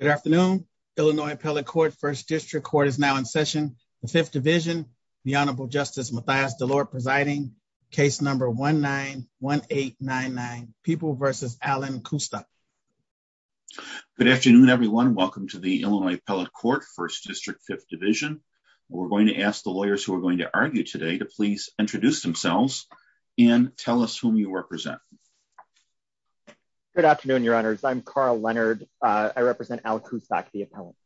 Good afternoon, Illinois Appellate Court, 1st District Court is now in session, the 5th Division, the Honorable Justice Mathias DeLore presiding, case number 1-9-1-8-9-9, People v. Allen Kusta. Good afternoon, everyone. Welcome to the Illinois Appellate Court, 1st District, 5th Division. We're going to ask the lawyers who are going to argue today to please introduce themselves and tell us whom you represent. Good afternoon, Your Honors. I'm Carl Leonard. I represent Al Kusak, the appellant.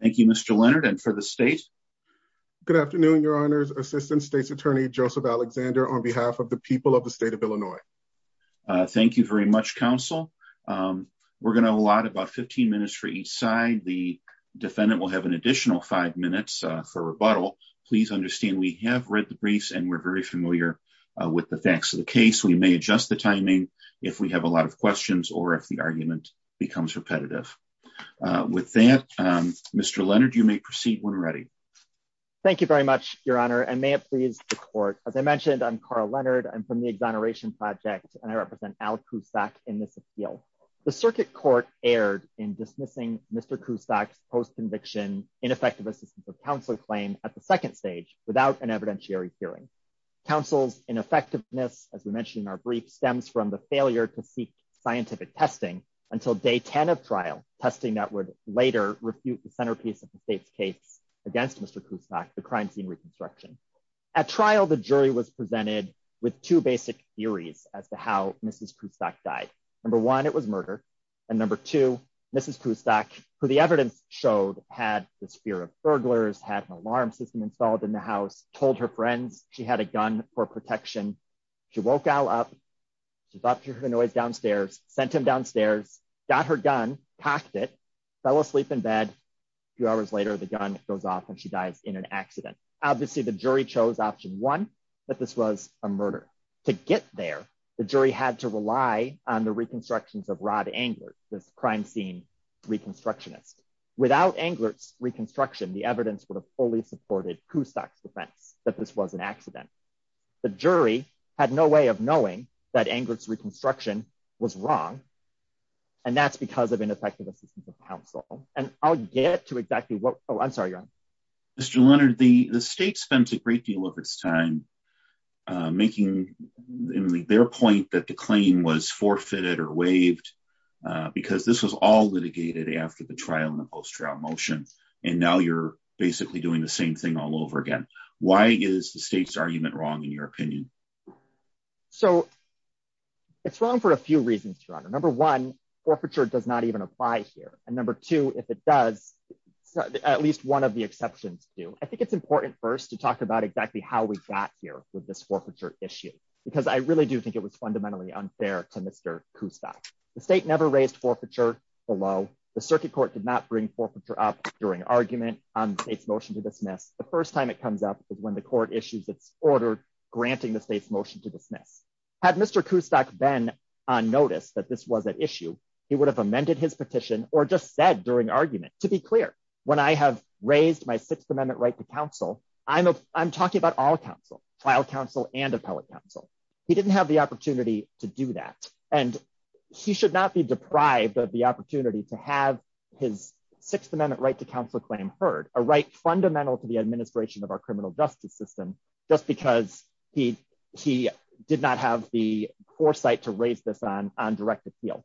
Thank you, Mr. Leonard. And for the state? Good afternoon, Your Honors. Assistant State's Attorney Joseph Alexander on behalf of the people of the state of Illinois. Thank you very much, counsel. We're going to allot about 15 minutes for each side. The defendant will have an additional five minutes for rebuttal. Please understand we have read the briefs and we're very familiar with the facts of the case. We may adjust the timing if we have a lot of questions or if the argument becomes repetitive. With that, Mr. Leonard, you may proceed when ready. Thank you very much, Your Honor, and may it please the court. As I mentioned, I'm Carl Leonard. I'm from the Exoneration Project, and I represent Al Kusak in this appeal. The circuit court erred in dismissing Mr. Kusak's post-conviction ineffective assistance of counsel claim at the second stage without an evidentiary hearing. Counsel's ineffectiveness, as we mentioned in our brief, stems from the failure to seek scientific testing until day 10 of trial, testing that would later refute the centerpiece of the state's case against Mr. Kusak, the crime scene reconstruction. At trial, the jury was presented with two basic theories as to how Mrs. Kusak died. Number one, it was murder. And number two, Mrs. Kusak, who the evidence showed had this fear of burglars, had an alarm system installed in the house, told her friends she had a gun for protection. She woke Al up. She thought through the noise downstairs, sent him downstairs, got her gun, packed it, fell asleep in bed. Two hours later, the gun goes off and she dies in an accident. Obviously, the jury chose option one, that this was a murder. To get there, the jury had to rely on the reconstructions of Rod Englert, this crime scene reconstructionist. Without Englert's reconstruction, the evidence would have fully supported Kusak's defense that this was an accident. The jury had no way of knowing that Englert's reconstruction was wrong. And that's because of ineffective assistance of counsel. And I'll get to exactly what... Oh, I'm sorry, Your Honor. Mr. Leonard, the state spent a great deal of its time making their point that the claim was forfeited or waived, because this was all litigated after the trial in the post-trial motion. And now you're basically doing the same thing all over again. Why is the state's argument wrong, in your opinion? So, it's wrong for a few reasons, Your Honor. Number one, forfeiture does not even apply here. And number two, if it does, at least one of the exceptions do. I think it's important first to talk about exactly how we got here with this forfeiture issue, because I really do think it was fundamentally unfair to Mr. Kusak. The state never raised forfeiture below. The circuit court did not bring forfeiture up during argument on the state's motion to dismiss. The first time it comes up is when the court issues its order granting the state's motion to dismiss. Had Mr. Kusak been on notice that this was at issue, he would have amended his petition or just said during argument, to be clear, when I have raised my Sixth Amendment right to counsel, I'm talking about all counsel, trial counsel and appellate counsel. He didn't have the opportunity to do that. And he should not be deprived of the opportunity to have his Sixth Amendment right to counsel claim heard, a right fundamental to the administration of our criminal justice system, just because he did not have the foresight to raise this on direct appeal.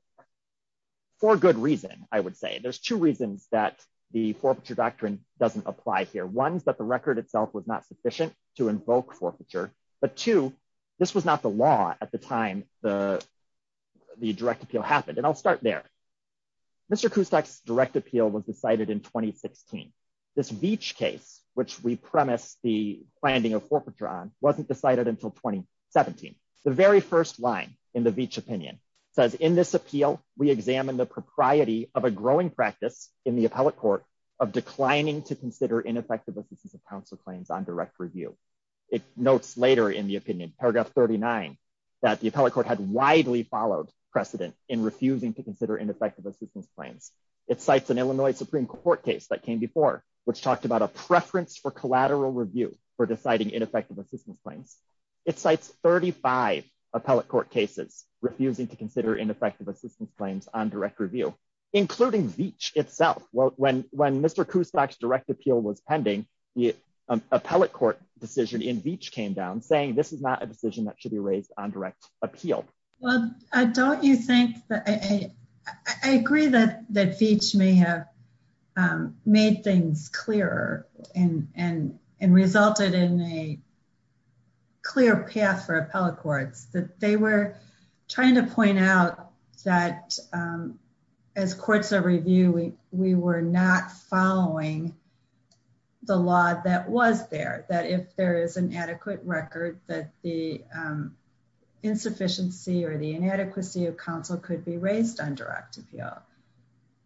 For good reason, I would say. There's two reasons that the forfeiture doctrine doesn't apply here. One is that the record itself was not sufficient to invoke forfeiture. But two, this was not the law at the time the direct appeal happened. And I'll start there. Mr. Kusak's direct appeal was decided in 2016. This Veech case, which we premise the finding of forfeiture on, wasn't decided until 2017. The very first line in the Veech opinion says, in this appeal, we examine the propriety of a growing practice in the appellate court of declining to consider ineffective offices of counsel claims on direct review. It notes later in the opinion, paragraph 39, that the appellate court had widely followed precedent in refusing to consider ineffective assistance claims. It cites an Illinois Supreme Court case that came before, which talked about a preference for collateral review for deciding ineffective assistance claims. It cites 35 appellate court cases refusing to consider ineffective assistance claims on direct review, including Veech itself. When Mr. Kusak's direct appeal was pending, the appellate court decision in Veech came down saying this is not a decision that should be raised on direct appeal. Well, don't you think that I agree that Veech may have made things clearer and resulted in a clear path for appellate courts, that they were trying to point out that as courts are reviewing, we were not following the law that was there. I think it's important to note that if there is an adequate record, that the insufficiency or the inadequacy of counsel could be raised on direct appeal,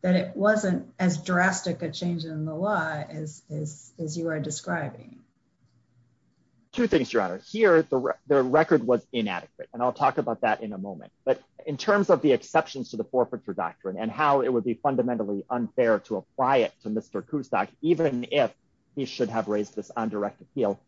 that it wasn't as drastic a change in the law as you are describing. Two things, Your Honor. Here, the record was inadequate, and I'll talk about that in a moment. But in terms of the exceptions to the forfeiture doctrine and how it would be fundamentally unfair to apply it to Mr. Kusak, even if he should have raised this on direct appeal,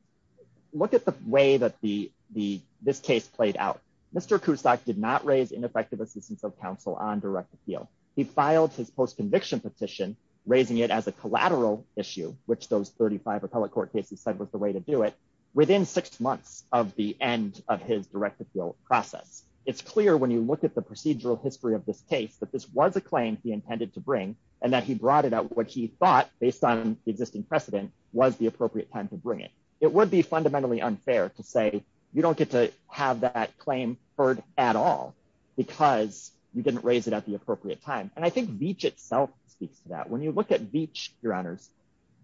look at the way that this case played out. Mr. Kusak did not raise ineffective assistance of counsel on direct appeal. He filed his post-conviction petition, raising it as a collateral issue, which those 35 appellate court cases said was the way to do it, within six months of the end of his direct appeal process. It's clear when you look at the procedural history of this case that this was a claim he intended to bring, and that he brought it out what he thought, based on the existing precedent, was the appropriate time to bring it. It would be fundamentally unfair to say, you don't get to have that claim heard at all, because you didn't raise it at the appropriate time. And I think Veatch itself speaks to that. When you look at Veatch, Your Honors,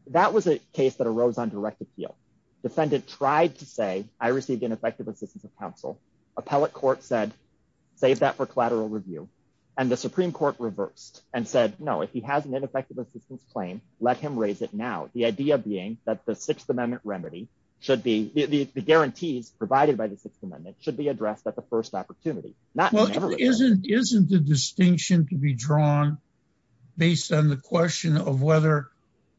that was a case that arose on direct appeal. The defendant tried to say, I received ineffective assistance of counsel. Appellate court said, save that for collateral review. And the Supreme Court reversed and said, no, if he has an ineffective assistance claim, let him raise it now. The idea being that the Sixth Amendment remedy should be, the guarantees provided by the Sixth Amendment should be addressed at the first opportunity. Well, isn't the distinction to be drawn based on the question of whether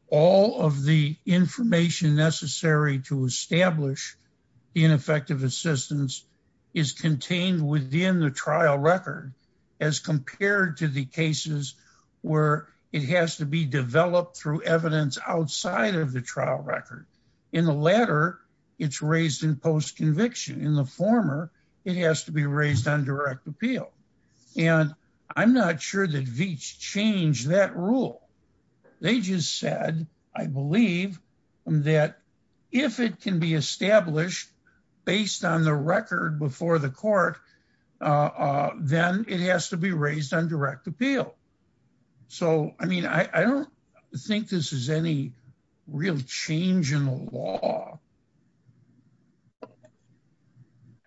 all of the information necessary to establish ineffective assistance is contained within the trial record, as compared to the cases where it has to be developed through evidence outside of the trial record. In the latter, it's raised in post-conviction. In the former, it has to be raised on direct appeal. And I'm not sure that Veatch changed that rule. They just said, I believe that if it can be established based on the record before the court, then it has to be raised on direct appeal. So, I mean, I don't think this is any real change in the law.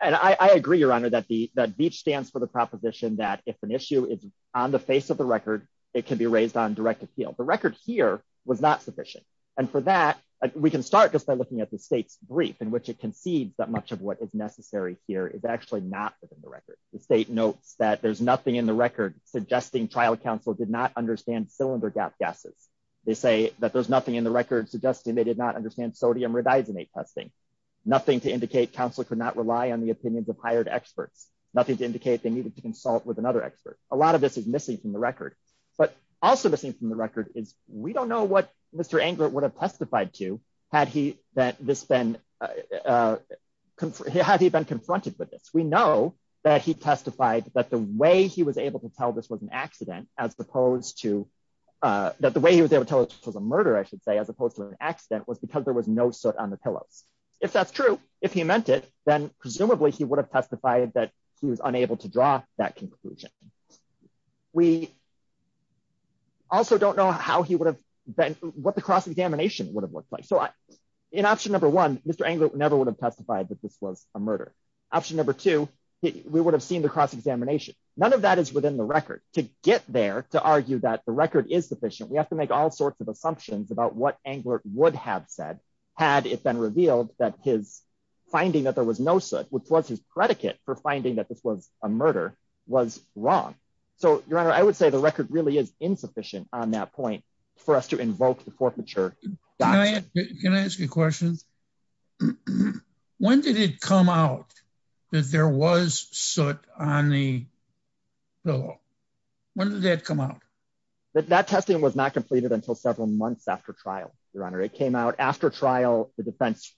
And I agree, Your Honor, that Veatch stands for the proposition that if an issue is on the face of the record, it can be raised on direct appeal. The record here was not sufficient. And for that, we can start just by looking at the state's brief, in which it concedes that much of what is necessary here is actually not within the record. The state notes that there's nothing in the record suggesting trial counsel did not understand cylinder gap gases. They say that there's nothing in the record suggesting they did not understand sodium rodizinate testing. Nothing to indicate counsel could not rely on the opinions of hired experts. Nothing to indicate they needed to consult with another expert. A lot of this is missing from the record. But also missing from the record is we don't know what Mr. Englert would have testified to had he been confronted with this. We know that he testified that the way he was able to tell this was an accident, as opposed to – that the way he was able to tell this was a murder, I should say, as opposed to an accident, was because there was no soot on the pillows. If that's true, if he meant it, then presumably he would have testified that he was unable to draw that conclusion. We also don't know how he would have – what the cross-examination would have looked like. So in option number one, Mr. Englert never would have testified that this was a murder. Option number two, we would have seen the cross-examination. None of that is within the record. To get there, to argue that the record is sufficient, we have to make all sorts of assumptions about what Englert would have said had it been revealed that his finding that there was no soot, which was his predicate for finding that this was a murder, was wrong. So, Your Honor, I would say the record really is insufficient on that point for us to invoke the forfeiture doctrine. Can I ask you a question? When did it come out that there was soot on the pillow? When did that come out? That testing was not completed until several months after trial, Your Honor. It came out after trial. The defense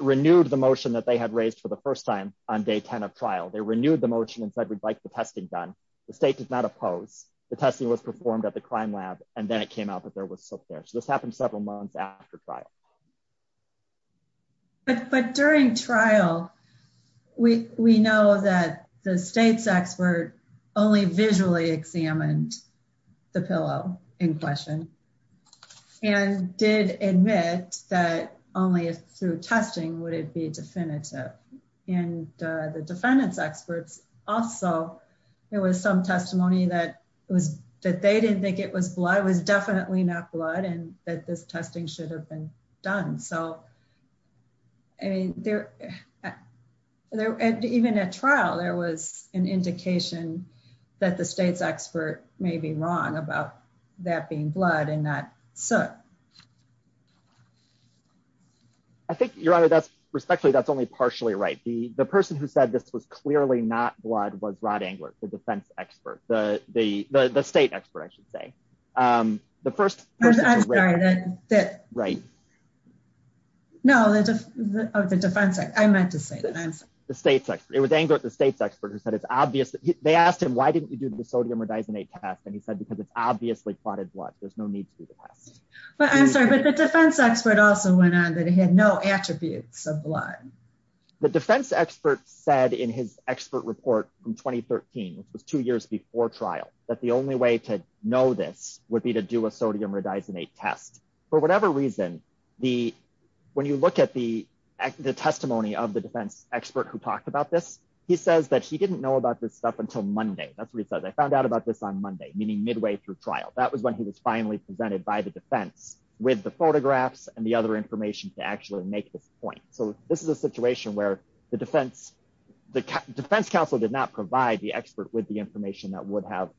renewed the motion that they had raised for the first time on day 10 of trial. They renewed the motion and said we'd like the testing done. The state did not oppose. The testing was performed at the crime lab, and then it came out that there was soot there. So this happened several months after trial. But during trial, we know that the state's expert only visually examined the pillow in question and did admit that only through testing would it be definitive. And the defendant's experts also, there was some testimony that they didn't think it was blood. It was definitely not blood and that this testing should have been done. So, I mean, even at trial, there was an indication that the state's expert may be wrong about that being blood and not soot. I think, Your Honor, respectfully, that's only partially right. The person who said this was clearly not blood was Rod Englert, the defense expert, the state expert, I should say. I'm sorry. No, the defense expert. I meant to say that. The state's expert. It was Englert, the state's expert, who said it's obvious. They asked him, why didn't you do the sodium rhodizate test? And he said, because it's obviously plotted blood. There's no need to do the test. I'm sorry, but the defense expert also went on that he had no attributes of blood. The defense expert said in his expert report from 2013, which was two years before trial, that the only way to know this would be to do a sodium rhodizate test. For whatever reason, when you look at the testimony of the defense expert who talked about this, he says that he didn't know about this stuff until Monday. That's what he says. I found out about this on Monday, meaning midway through trial. That was when he was finally presented by the defense with the photographs and the other information to actually make this point. So this is a situation where the defense counsel did not provide the expert with the information that would have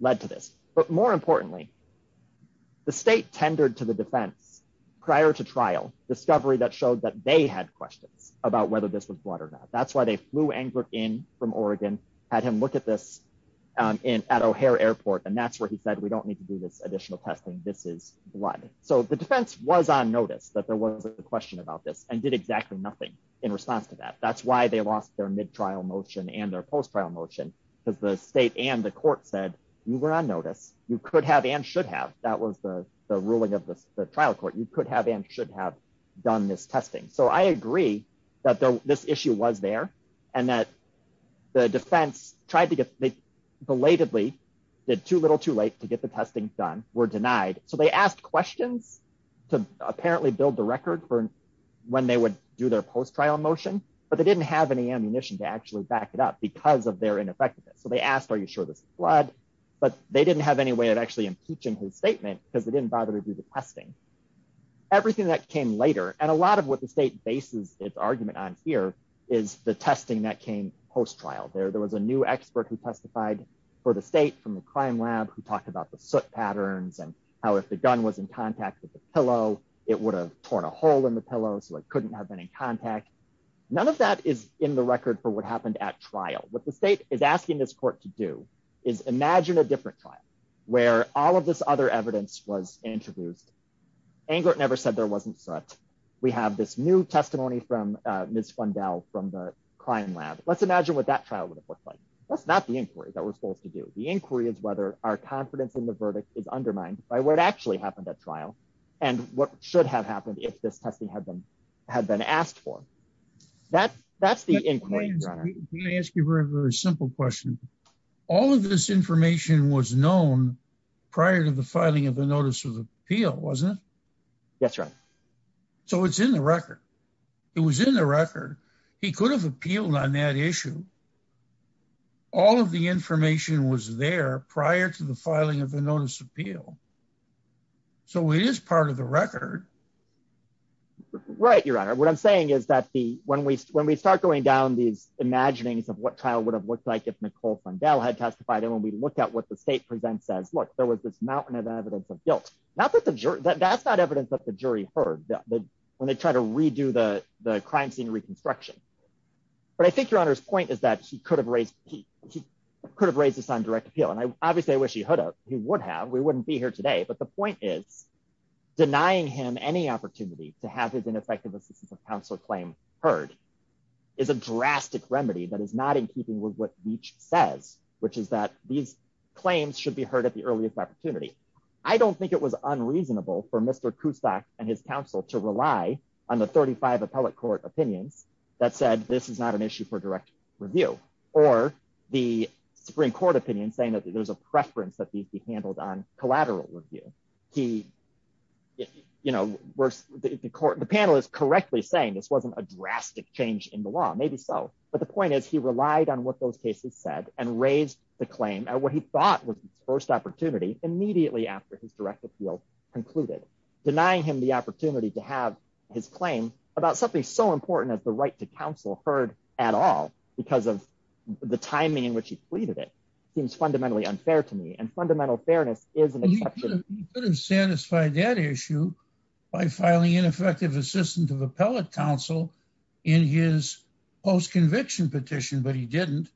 led to this. But more importantly, the state tendered to the defense prior to trial, discovery that showed that they had questions about whether this was blood or not. That's why they flew Englert in from Oregon, had him look at this at O'Hare Airport, and that's where he said, we don't need to do this additional testing. This is blood. So the defense was on notice that there was a question about this and did exactly nothing in response to that. That's why they lost their mid-trial motion and their post-trial motion, because the state and the court said you were on notice. You could have and should have. That was the ruling of the trial court. You could have and should have done this testing. So I agree that this issue was there and that the defense tried to get, they belatedly did too little too late to get the testing done, were denied. So they asked questions to apparently build the record for when they would do their post-trial motion, but they didn't have any ammunition to actually back it up because of their ineffectiveness. So they asked, are you sure this is blood? But they didn't have any way of actually impeaching his statement because they didn't bother to do the testing. Everything that came later, and a lot of what the state bases its argument on here is the testing that came post-trial. There was a new expert who testified for the state from the crime lab who talked about the soot patterns and how if the gun was in contact with the pillow, it would have torn a hole in the pillow so it couldn't have been in contact. None of that is in the record for what happened at trial. What the state is asking this court to do is imagine a different trial where all of this other evidence was introduced. Englert never said there wasn't soot. We have this new testimony from Ms. Fundell from the crime lab. Let's imagine what that trial would have looked like. That's not the inquiry that we're supposed to do. The inquiry is whether our confidence in the verdict is undermined by what actually happened at trial and what should have happened if this testing had been asked for. That's the inquiry. Let me ask you a very simple question. All of this information was known prior to the filing of the Notice of Appeal, wasn't it? Yes, Your Honor. So it's in the record. It was in the record. He could have appealed on that issue. All of the information was there prior to the filing of the Notice of Appeal. So it is part of the record. Right, Your Honor. What I'm saying is that when we start going down these imaginings of what trial would have looked like if Nicole Fundell had testified and when we look at what the state presents as, look, there was this mountain of evidence of guilt. That's not evidence that the jury heard when they tried to redo the crime scene reconstruction. But I think Your Honor's point is that he could have raised this on direct appeal, and obviously I wish he would have. He would have. We wouldn't be here today. But the point is, denying him any opportunity to have his ineffective assistance of counsel claim heard is a drastic remedy that is not in keeping with what Leach says, which is that these claims should be heard at the earliest opportunity. I don't think it was unreasonable for Mr. Kustak and his counsel to rely on the 35 appellate court opinions that said this is not an issue for direct review, or the Supreme Court opinion saying that there's a preference that these be handled on collateral review. The panel is correctly saying this wasn't a drastic change in the law, maybe so. But the point is, he relied on what those cases said and raised the claim at what he thought was his first opportunity immediately after his direct appeal concluded. Denying him the opportunity to have his claim about something so important as the right to counsel heard at all because of the timing in which he pleaded it seems fundamentally unfair to me, and fundamental fairness is an exception. He could have satisfied that issue by filing ineffective assistance of appellate counsel in his post-conviction petition, but he didn't.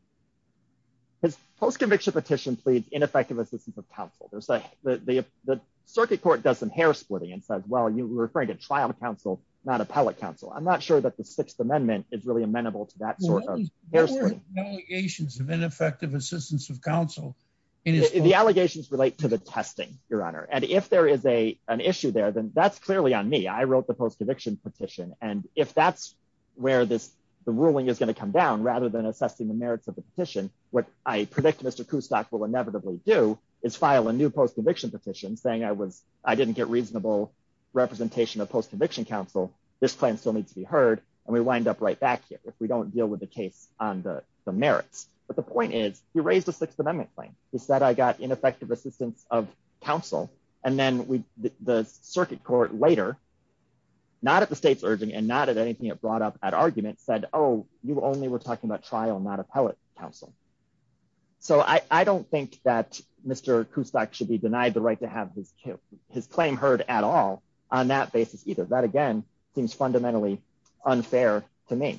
His post-conviction petition pleads ineffective assistance of counsel. The circuit court does some hair splitting and says, well, you were referring to trial counsel, not appellate counsel. I'm not sure that the Sixth Amendment is really amenable to that sort of hair splitting. What were the allegations of ineffective assistance of counsel? The allegations relate to the testing, Your Honor. And if there is an issue there, then that's clearly on me. I wrote the post-conviction petition. And if that's where the ruling is going to come down rather than assessing the merits of the petition, what I predict Mr. Kustak will inevitably do is file a new post-conviction petition saying I didn't get reasonable representation of post-conviction counsel. This claim still needs to be heard, and we wind up right back here if we don't deal with the case on the merits. But the point is, he raised a Sixth Amendment claim. He said I got ineffective assistance of counsel, and then the circuit court later, not at the state's urging and not at anything it brought up at argument, said, oh, you only were talking about trial, not appellate counsel. So I don't think that Mr. Kustak should be denied the right to have his claim heard at all on that basis either. That, again, seems fundamentally unfair to me.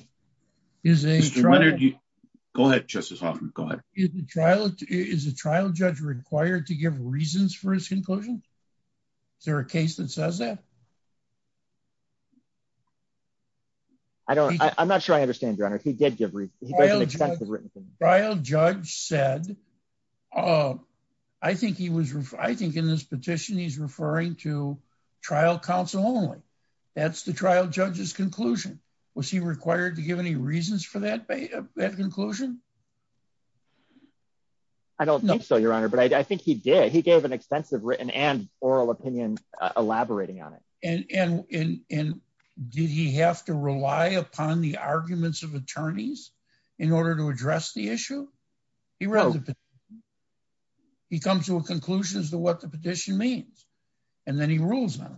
Go ahead, Justice Hoffman. Go ahead. Is a trial judge required to give reasons for his conclusion? Is there a case that says that? I'm not sure I understand, Your Honor. He did give reasons. Trial judge said, I think in this petition he's referring to trial counsel only. That's the trial judge's conclusion. Was he required to give any reasons for that conclusion? I don't think so, Your Honor, but I think he did. He gave an extensive written and oral opinion elaborating on it. And did he have to rely upon the arguments of attorneys in order to address the issue? No. He comes to a conclusion as to what the petition means, and then he rules on it.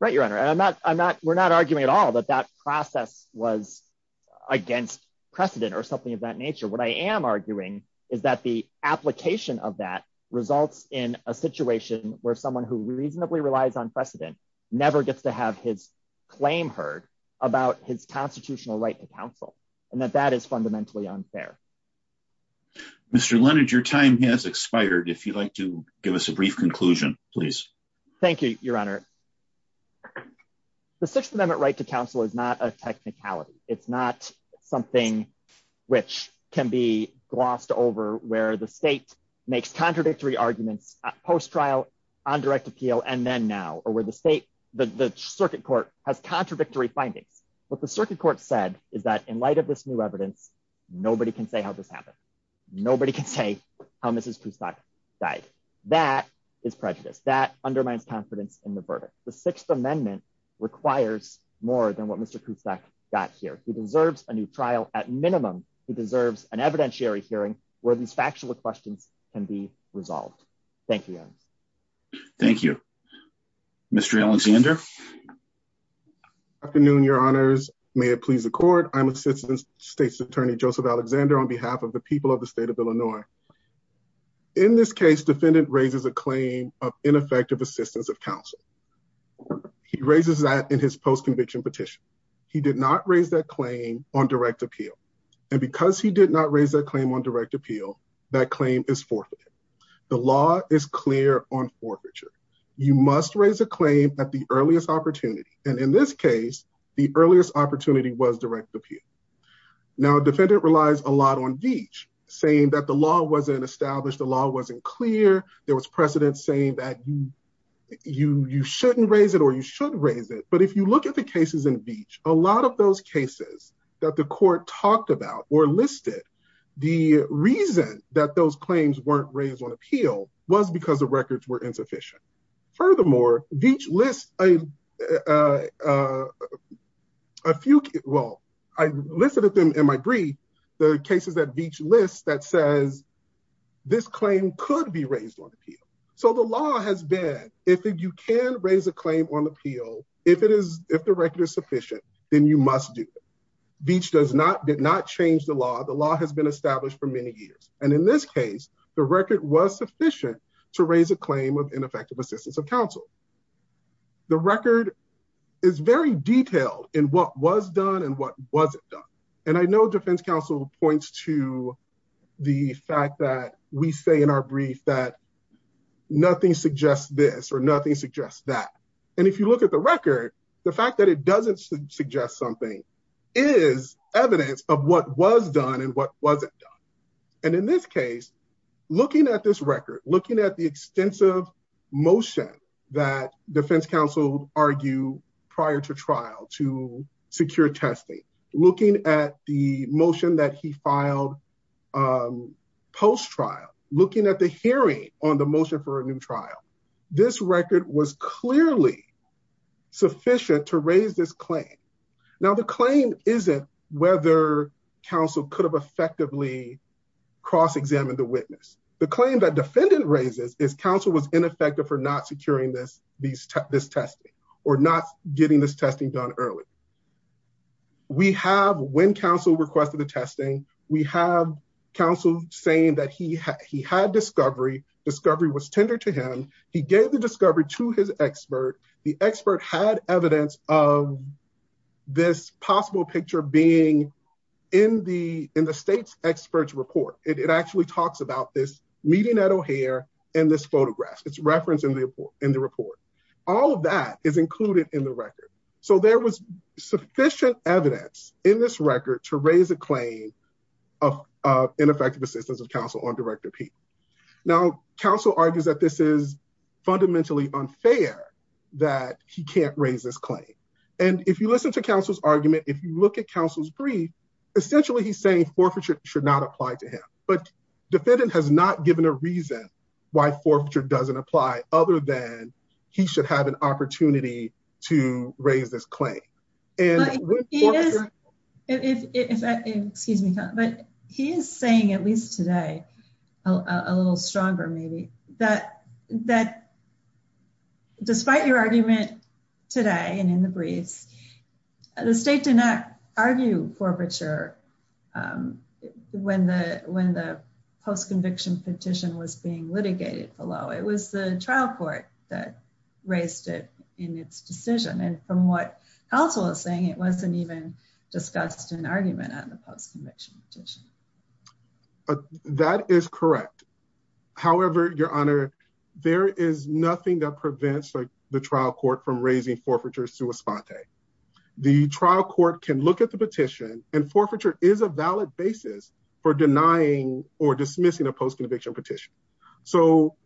Right, Your Honor. We're not arguing at all that that process was against precedent or something of that nature. What I am arguing is that the application of that results in a situation where someone who reasonably relies on precedent never gets to have his claim heard about his constitutional right to counsel, and that that is fundamentally unfair. Mr. Leonard, your time has expired. If you'd like to give us a brief conclusion, please. Thank you, Your Honor. The Sixth Amendment right to counsel is not a technicality. It's not something which can be glossed over where the state makes contradictory arguments post-trial, on direct appeal, and then now, or where the circuit court has contradictory findings. What the circuit court said is that in light of this new evidence, nobody can say how this happened. Nobody can say how Mrs. Kustak died. That is prejudice. That undermines confidence in the verdict. The Sixth Amendment requires more than what Mr. Kustak got here. He deserves a new trial. At minimum, he deserves an evidentiary hearing where these factual questions can be resolved. Thank you, Your Honor. Thank you. Mr. Alexander? Afternoon, Your Honors. May it please the Court. I'm Assistant State's Attorney Joseph Alexander on behalf of the people of the state of Illinois. In this case, defendant raises a claim of ineffective assistance of counsel. He raises that in his post-conviction petition. He did not raise that claim on direct appeal. And because he did not raise that claim on direct appeal, that claim is forfeited. The law is clear on forfeiture. You must raise a claim at the earliest opportunity. And in this case, the earliest opportunity was direct appeal. Now, defendant relies a lot on Veatch, saying that the law wasn't established, the law wasn't clear, there was precedent saying that you shouldn't raise it or you should raise it. But if you look at the cases in Veatch, a lot of those cases that the court talked about or listed, the reason that those claims weren't raised on appeal was because the records were insufficient. Furthermore, Veatch lists a few, well, I listed them in my brief, the cases that Veatch lists that says this claim could be raised on appeal. So the law has been, if you can raise a claim on appeal, if the record is sufficient, then you must do it. Veatch did not change the law. The law has been established for many years. And in this case, the record was sufficient to raise a claim of ineffective assistance of counsel. The record is very detailed in what was done and what wasn't done. And I know defense counsel points to the fact that we say in our brief that nothing suggests this or nothing suggests that. And if you look at the record, the fact that it doesn't suggest something is evidence of what was done and what wasn't done. And in this case, looking at this record, looking at the extensive motion that defense counsel argue prior to trial to secure testing, looking at the motion that he filed post-trial, looking at the hearing on the motion for a new trial. This record was clearly sufficient to raise this claim. Now the claim isn't whether counsel could have effectively cross-examined the witness. The claim that defendant raises is counsel was ineffective for not securing this testing or not getting this testing done early. We have, when counsel requested the testing, we have counsel saying that he had discovery. Discovery was tendered to him. He gave the discovery to his expert. The expert had evidence of this possible picture being in the state's experts report. It actually talks about this meeting at O'Hare and this photograph. It's referenced in the report. All of that is included in the record. So there was sufficient evidence in this record to raise a claim of ineffective assistance of counsel on Director Peay. Now, counsel argues that this is fundamentally unfair that he can't raise this claim. And if you listen to counsel's argument, if you look at counsel's brief, essentially he's saying forfeiture should not apply to him. But defendant has not given a reason why forfeiture doesn't apply other than he should have an opportunity to raise this claim. But he is saying, at least today, a little stronger, maybe, that despite your argument today and in the briefs, the state did not argue forfeiture when the post-conviction petition was being litigated below. It was the trial court that raised it in its decision. And from what counsel is saying, it wasn't even discussed in an argument at the post-conviction petition. That is correct. However, Your Honor, there is nothing that prevents the trial court from raising forfeiture sua sponte. The trial court can look at the petition, and forfeiture is a valid basis for denying or dismissing a post-conviction petition. So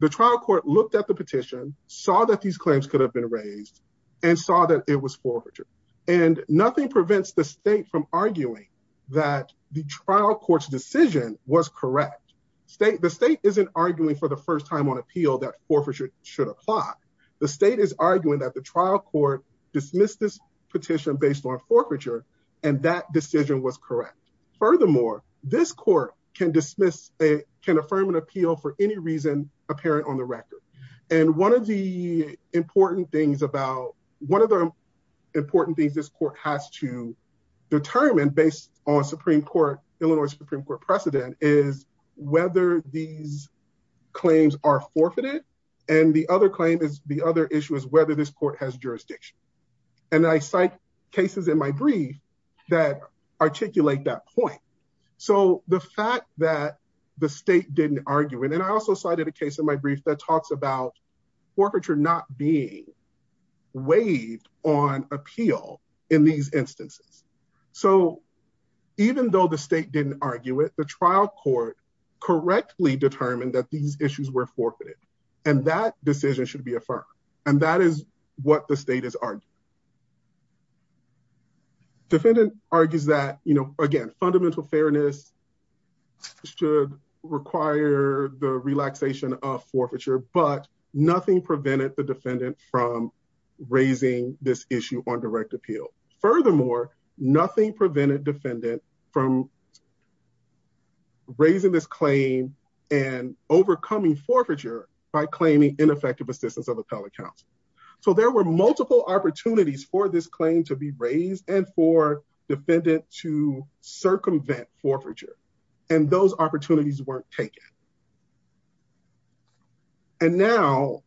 the trial court looked at the petition, saw that these claims could have been raised, and saw that it was forfeiture. And nothing prevents the state from arguing that the trial court's decision was correct. The state isn't arguing for the first time on appeal that forfeiture should apply. The state is arguing that the trial court dismissed this petition based on forfeiture, and that decision was correct. Furthermore, this court can affirm an appeal for any reason apparent on the record. And one of the important things this court has to determine based on Illinois Supreme Court precedent is whether these claims are forfeited. And the other issue is whether this court has jurisdiction. And I cite cases in my brief that articulate that point. So the fact that the state didn't argue it, and I also cited a case in my brief that talks about forfeiture not being waived on appeal in these instances. So even though the state didn't argue it, the trial court correctly determined that these issues were forfeited, and that decision should be affirmed. And that is what the state is arguing. Defendant argues that, you know, again, fundamental fairness should require the relaxation of forfeiture, but nothing prevented the defendant from raising this issue on direct appeal. Furthermore, nothing prevented defendant from raising this claim and overcoming forfeiture by claiming ineffective assistance of appellate counsel. So there were multiple opportunities for this claim to be raised and for defendant to circumvent forfeiture, and those opportunities weren't taken. And now,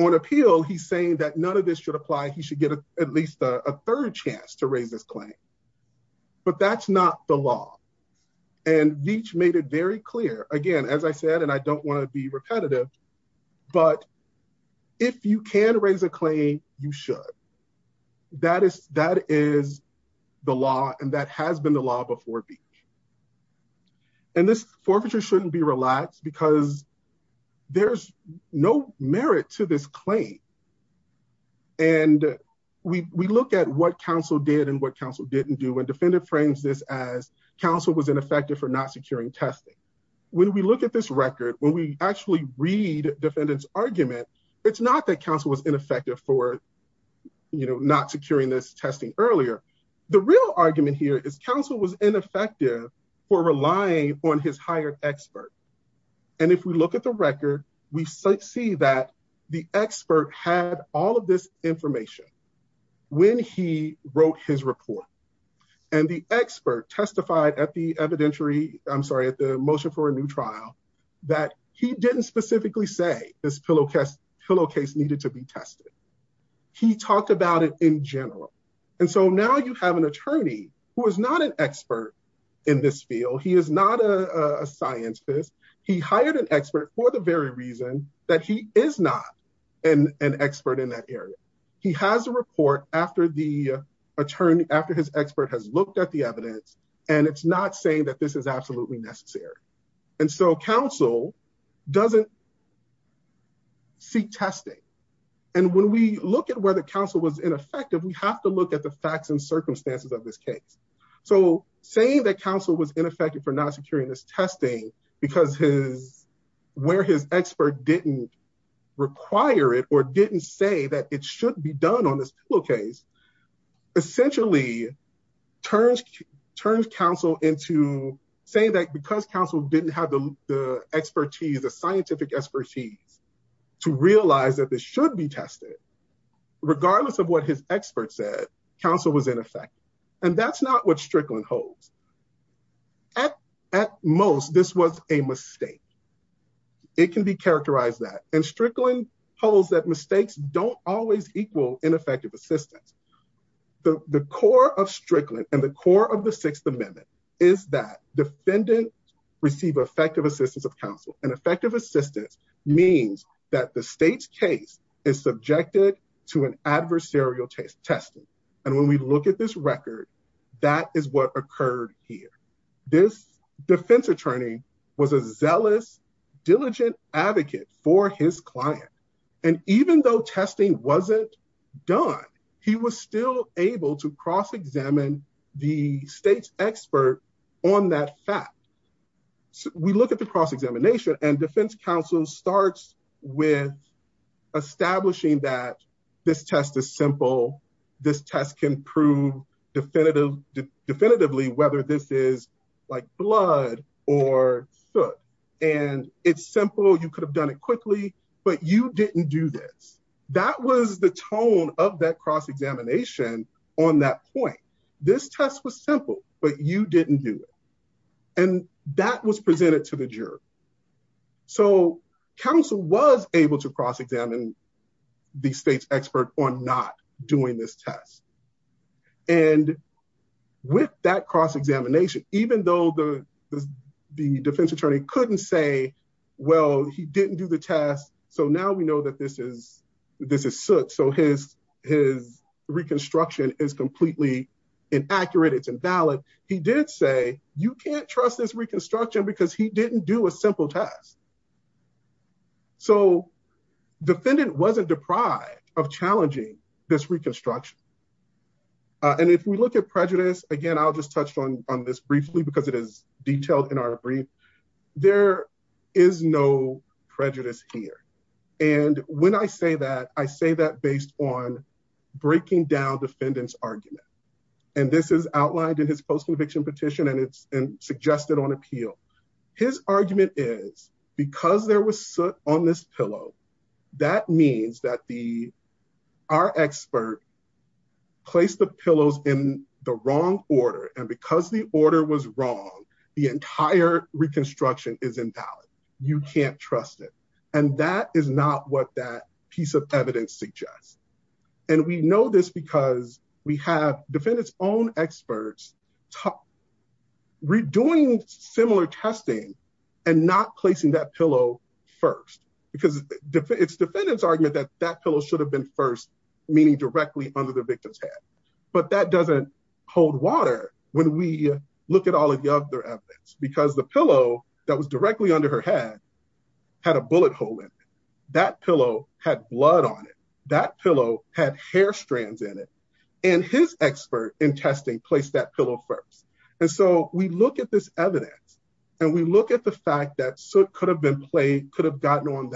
on appeal, he's saying that none of this should apply. He should get at least a third chance to raise this claim. But that's not the law. And Veach made it very clear. Again, as I said, and I don't want to be repetitive, but if you can raise a claim, you should. That is the law, and that has been the law before Veach. And this forfeiture shouldn't be relaxed because there's no merit to this claim. And we look at what counsel did and what counsel didn't do, and defendant frames this as counsel was ineffective for not securing testing. When we look at this record, when we actually read defendant's argument, it's not that counsel was ineffective for, you know, not securing this testing earlier. The real argument here is counsel was ineffective for relying on his hired expert. And if we look at the record, we see that the expert had all of this information when he wrote his report. And the expert testified at the evidentiary, I'm sorry, at the motion for a new trial, that he didn't specifically say this pillowcase needed to be tested. He talked about it in general. And so now you have an attorney who is not an expert in this field. He is not a scientist. He hired an expert for the very reason that he is not an expert in that area. He has a report after his expert has looked at the evidence, and it's not saying that this is absolutely necessary. And so counsel doesn't seek testing. And when we look at whether counsel was ineffective, we have to look at the facts and circumstances of this case. So saying that counsel was ineffective for not securing this testing because his, where his expert didn't require it or didn't say that it should be done on this pillowcase, essentially turns counsel into saying that because counsel didn't have the expertise, the scientific expertise to realize that this should be tested, regardless of what his expert said, counsel was ineffective. And that's not what Strickland holds. At most, this was a mistake. It can be characterized that. And Strickland holds that mistakes don't always equal ineffective assistance. The core of Strickland and the core of the Sixth Amendment is that defendants receive effective assistance of counsel. And effective assistance means that the state's case is subjected to an adversarial testing. And when we look at this record, that is what occurred here. This defense attorney was a zealous, diligent advocate for his client. And even though testing wasn't done, he was still able to cross-examine the state's expert on that fact. We look at the cross-examination and defense counsel starts with establishing that this test is simple. This test can prove definitively whether this is like blood or soot. And it's simple. You could have done it quickly, but you didn't do this. That was the tone of that cross-examination on that point. This test was simple, but you didn't do it. And that was presented to the juror. So counsel was able to cross-examine the state's expert on not doing this test. And with that cross-examination, even though the defense attorney couldn't say, well, he didn't do the test. So now we know that this is soot. So his reconstruction is completely inaccurate. It's invalid. He did say, you can't trust this reconstruction because he didn't do a simple test. So defendant wasn't deprived of challenging this reconstruction. And if we look at prejudice, again, I'll just touch on this briefly because it is detailed in our brief. There is no prejudice here. And when I say that, I say that based on breaking down defendant's argument. And this is outlined in his post-conviction petition, and it's suggested on appeal. His argument is because there was soot on this pillow, that means that our expert placed the pillows in the wrong order. And because the order was wrong, the entire reconstruction is invalid. You can't trust it. And that is not what that piece of evidence suggests. And we know this because we have defendants' own experts redoing similar testing and not placing that pillow first. Because it's defendant's argument that that pillow should have been first, meaning directly under the victim's head. But that doesn't hold water when we look at all of the other evidence, because the pillow that was directly under her head had a bullet hole in it. That pillow had blood on it. That pillow had hair strands in it. And his expert in testing placed that pillow first. And so we look at this evidence and we look at the fact that soot could have been played, could have gotten on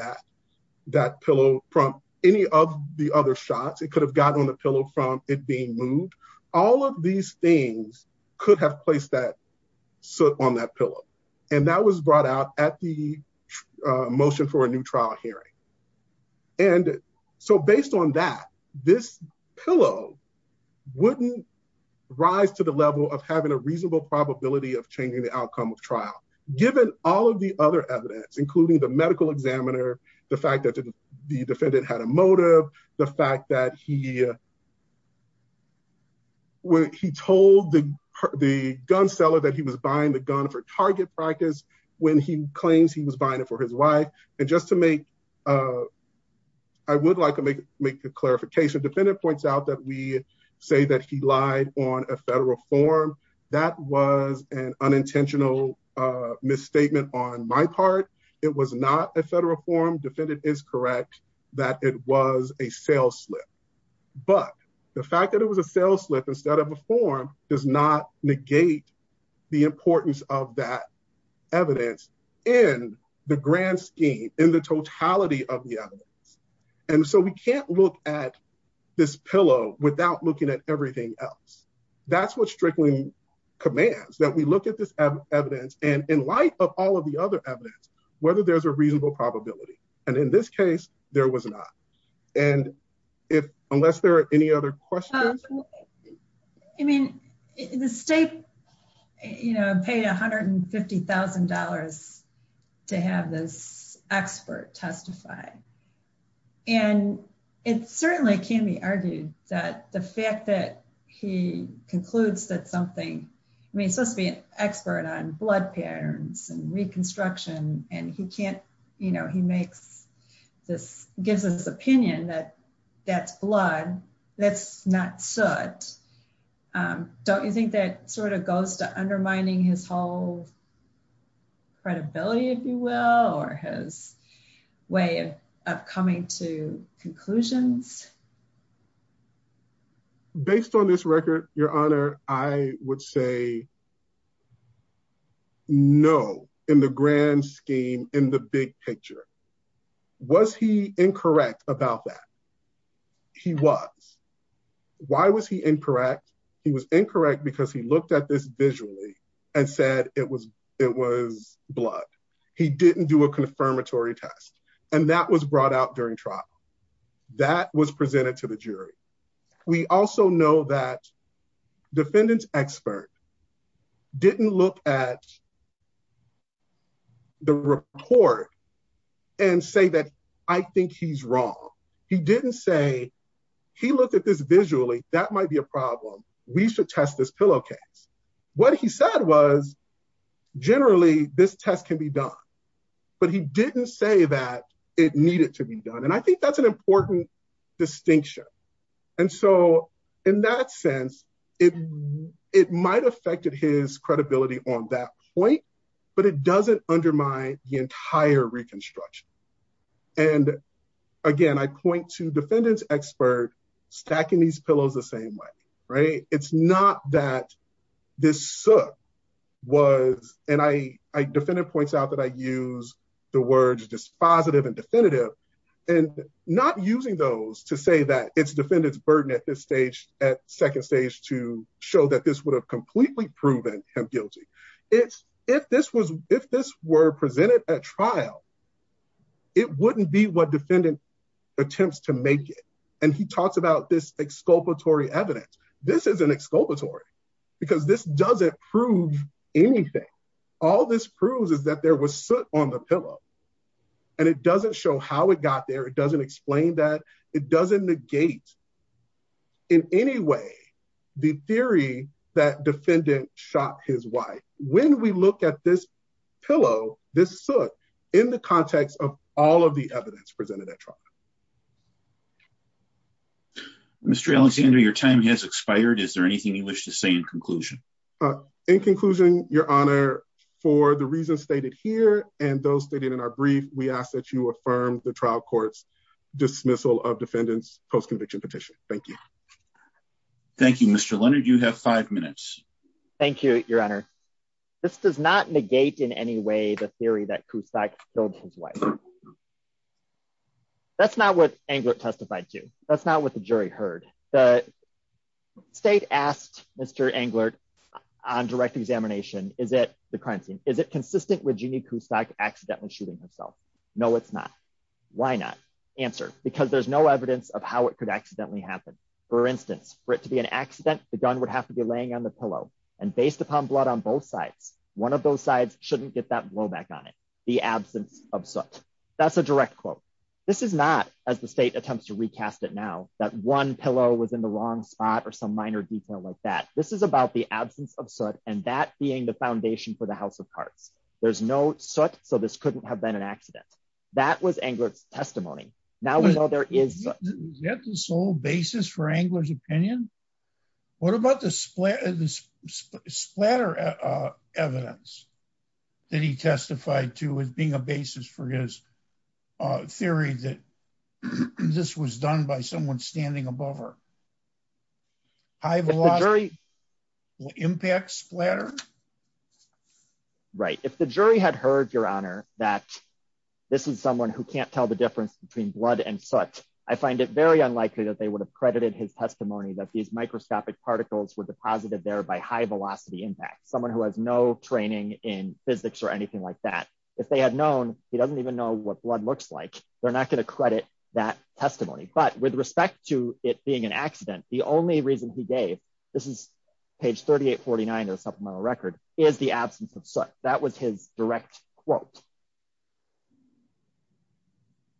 that pillow from any of the other shots. It could have gotten on the pillow from it being moved. All of these things could have placed that soot on that pillow. And that was brought out at the motion for a new trial hearing. And so based on that, this pillow wouldn't rise to the level of having a reasonable probability of changing the outcome of trial, given all of the other evidence, including the medical examiner, the fact that the defendant had a motive, the fact that he told the gun seller that he was buying the gun for target practice when he claims he was buying it for his wife. And just to make, I would like to make a clarification. Defendant points out that we say that he lied on a federal form. That was an unintentional misstatement on my part. It was not a federal form. Defendant is correct that it was a sales slip. But the fact that it was a sales slip instead of a form does not negate the importance of that evidence in the grand scheme, in the totality of the evidence. And so we can't look at this pillow without looking at everything else. That's what Strickland commands, that we look at this evidence and in light of all of the other evidence, whether there's a reasonable probability. And in this case, there was not. And if unless there are any other questions. I mean, the state, you know, paid $150,000 to have this expert testify. And it certainly can be argued that the fact that he concludes that something, I mean, it's supposed to be an expert on blood patterns and reconstruction. And he can't you know, he makes this gives us opinion that that's blood that's not soot. Don't you think that sort of goes to undermining his whole credibility, if you will, or his way of coming to conclusions? Based on this record, Your Honor, I would say no in the grand scheme in the big picture. Was he incorrect about that? He was. Why was he incorrect? He was incorrect because he looked at this visually and said it was it was blood. He didn't do a confirmatory test and that was brought out during trial that was presented to the jury. We also know that defendants expert. Didn't look at. The report and say that I think he's wrong. He didn't say he looked at this visually. That might be a problem. We should test this pillowcase. What he said was generally this test can be done, but he didn't say that it needed to be done. And I think that's an important distinction. And so in that sense, it it might affect his credibility on that point, but it doesn't undermine the entire reconstruction. And again, I point to defendants expert stacking these pillows the same way, right? It's not that this was and I defended points out that I use the words dispositive and definitive and not using those to say that it's defendants burden at this stage at second stage to show that this would have completely proven him guilty. It's if this was if this were presented at trial, it wouldn't be what defendant attempts to make it. And he talks about this exculpatory evidence. This is an exculpatory because this doesn't prove anything. All this proves is that there was soot on the pillow and it doesn't show how it got there. It doesn't explain that it doesn't negate in any way the theory that defendant shot his wife. When we look at this pillow, this soot in the context of all of the evidence presented at trial. Mr. Alexander, your time has expired. Is there anything you wish to say in conclusion? In conclusion, Your Honor, for the reasons stated here, and those stated in our brief, we ask that you affirm the trial court's dismissal of defendants post conviction petition. Thank you. Thank you, Mr. Leonard, you have five minutes. Thank you, Your Honor. This does not negate in any way the theory that Kusak killed his wife. That's not what Englert testified to. That's not what the jury heard. The state asked Mr. Englert on direct examination. Is it the crime scene? Is it consistent with Jeannie Kusak accidentally shooting herself? No, it's not. Why not answer? Because there's no evidence of how it could accidentally happen. For instance, for it to be an accident, the gun would have to be laying on the pillow and based upon blood on both sides. One of those sides shouldn't get that blowback on it. The absence of soot. That's a direct quote. This is not, as the state attempts to recast it now, that one pillow was in the wrong spot or some minor detail like that. This is about the absence of soot and that being the foundation for the House of Cards. There's no soot, so this couldn't have been an accident. That was Englert's testimony. Is that the sole basis for Englert's opinion? What about the splatter evidence that he testified to as being a basis for his theory that this was done by someone standing above her? High velocity impacts splatter? Right. If the jury had heard, Your Honor, that this is someone who can't tell the difference between blood and soot, I find it very unlikely that they would have credited his testimony that these microscopic particles were deposited there by high velocity impact. Someone who has no training in physics or anything like that. If they had known, he doesn't even know what blood looks like. They're not going to credit that testimony. But with respect to it being an accident, the only reason he gave, this is page 3849 of the supplemental record, is the absence of soot. That was his direct quote.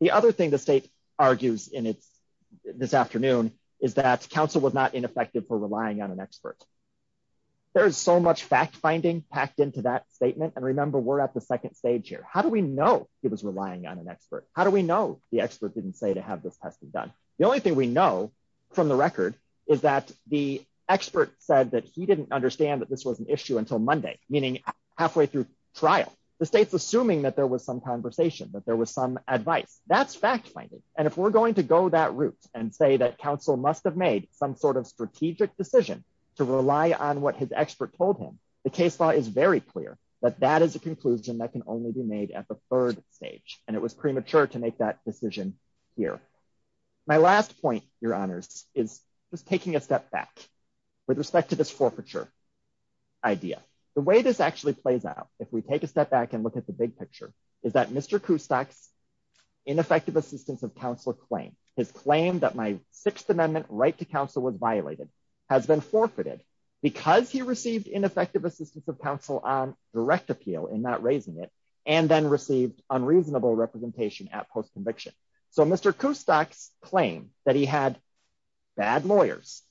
The other thing the state argues in this afternoon is that counsel was not ineffective for relying on an expert. There's so much fact finding packed into that statement. And remember, we're at the second stage here. How do we know he was relying on an expert? How do we know the expert didn't say to have this testing done? The only thing we know from the record is that the expert said that he didn't understand that this was an issue until Monday, meaning halfway through trial. The state's assuming that there was some conversation, that there was some advice. That's fact finding. And if we're going to go that route and say that counsel must have made some sort of strategic decision to rely on what his expert told him, the case law is very clear that that is a conclusion that can only be made at the third stage. And it was premature to make that decision here. My last point, Your Honors, is just taking a step back with respect to this forfeiture idea. The way this actually plays out, if we take a step back and look at the big picture, is that Mr. Kustak's ineffective assistance of counsel claim, his claim that my Sixth Amendment right to counsel was violated, has been forfeited because he received ineffective assistance of counsel on direct appeal and not raising it, and then received unreasonable representation at post-conviction. So Mr. Kustak's claim that he had bad lawyers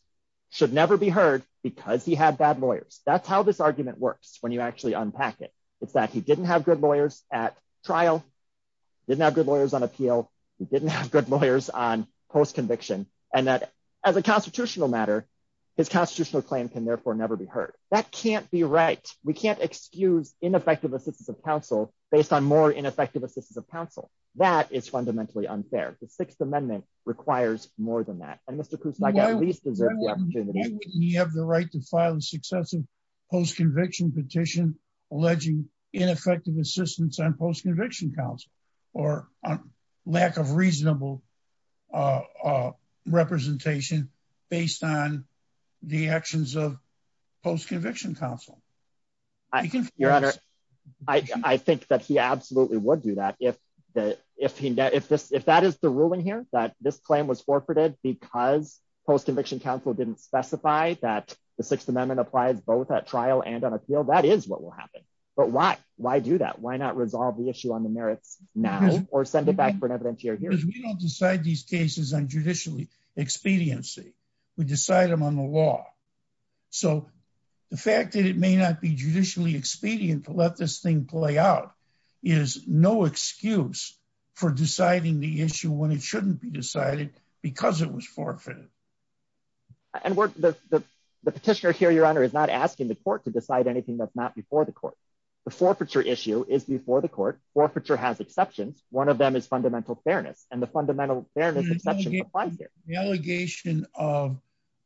should never be heard because he had bad lawyers. That's how this argument works when you actually unpack it. It's that he didn't have good lawyers at trial, didn't have good lawyers on appeal, he didn't have good lawyers on post-conviction, and that as a constitutional matter, his constitutional claim can therefore never be heard. That can't be right. We can't excuse ineffective assistance of counsel based on more ineffective assistance of counsel. That is fundamentally unfair. The Sixth Amendment requires more than that. And Mr. Kustak at least deserves the opportunity. Why wouldn't he have the right to file a successive post-conviction petition alleging ineffective assistance on post-conviction counsel or lack of reasonable representation based on the actions of post-conviction counsel? Your Honor, I think that he absolutely would do that. If that is the ruling here, that this claim was forfeited because post-conviction counsel didn't specify that the Sixth Amendment applies both at trial and on appeal, that is what will happen. But why do that? Why not resolve the issue on the merits now or send it back for an evidentiary hearing? Because we don't decide these cases on judicial expediency. We decide them on the law. So the fact that it may not be judicially expedient to let this thing play out is no excuse for deciding the issue when it shouldn't be decided because it was forfeited. And the petitioner here, Your Honor, is not asking the court to decide anything that's not before the court. The forfeiture issue is before the court. Forfeiture has exceptions. One of them is fundamental fairness. And the fundamental fairness exception applies here. The allegation of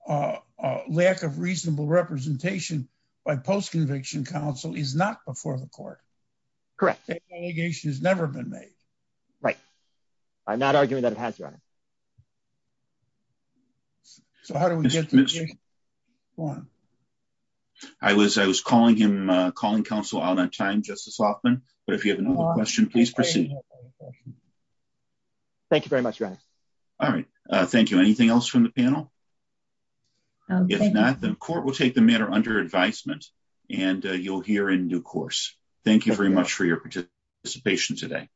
lack of reasonable representation by post-conviction counsel is not before the court. Correct. The allegation has never been made. Right. I'm not arguing that it has, Your Honor. So how do we get to the case? I was calling counsel out on time, Justice Hoffman, but if you have another question, please proceed. Thank you very much, Your Honor. All right. Thank you. Anything else from the panel? If not, the court will take the matter under advisement and you'll hear in due course. Thank you very much for your participation today.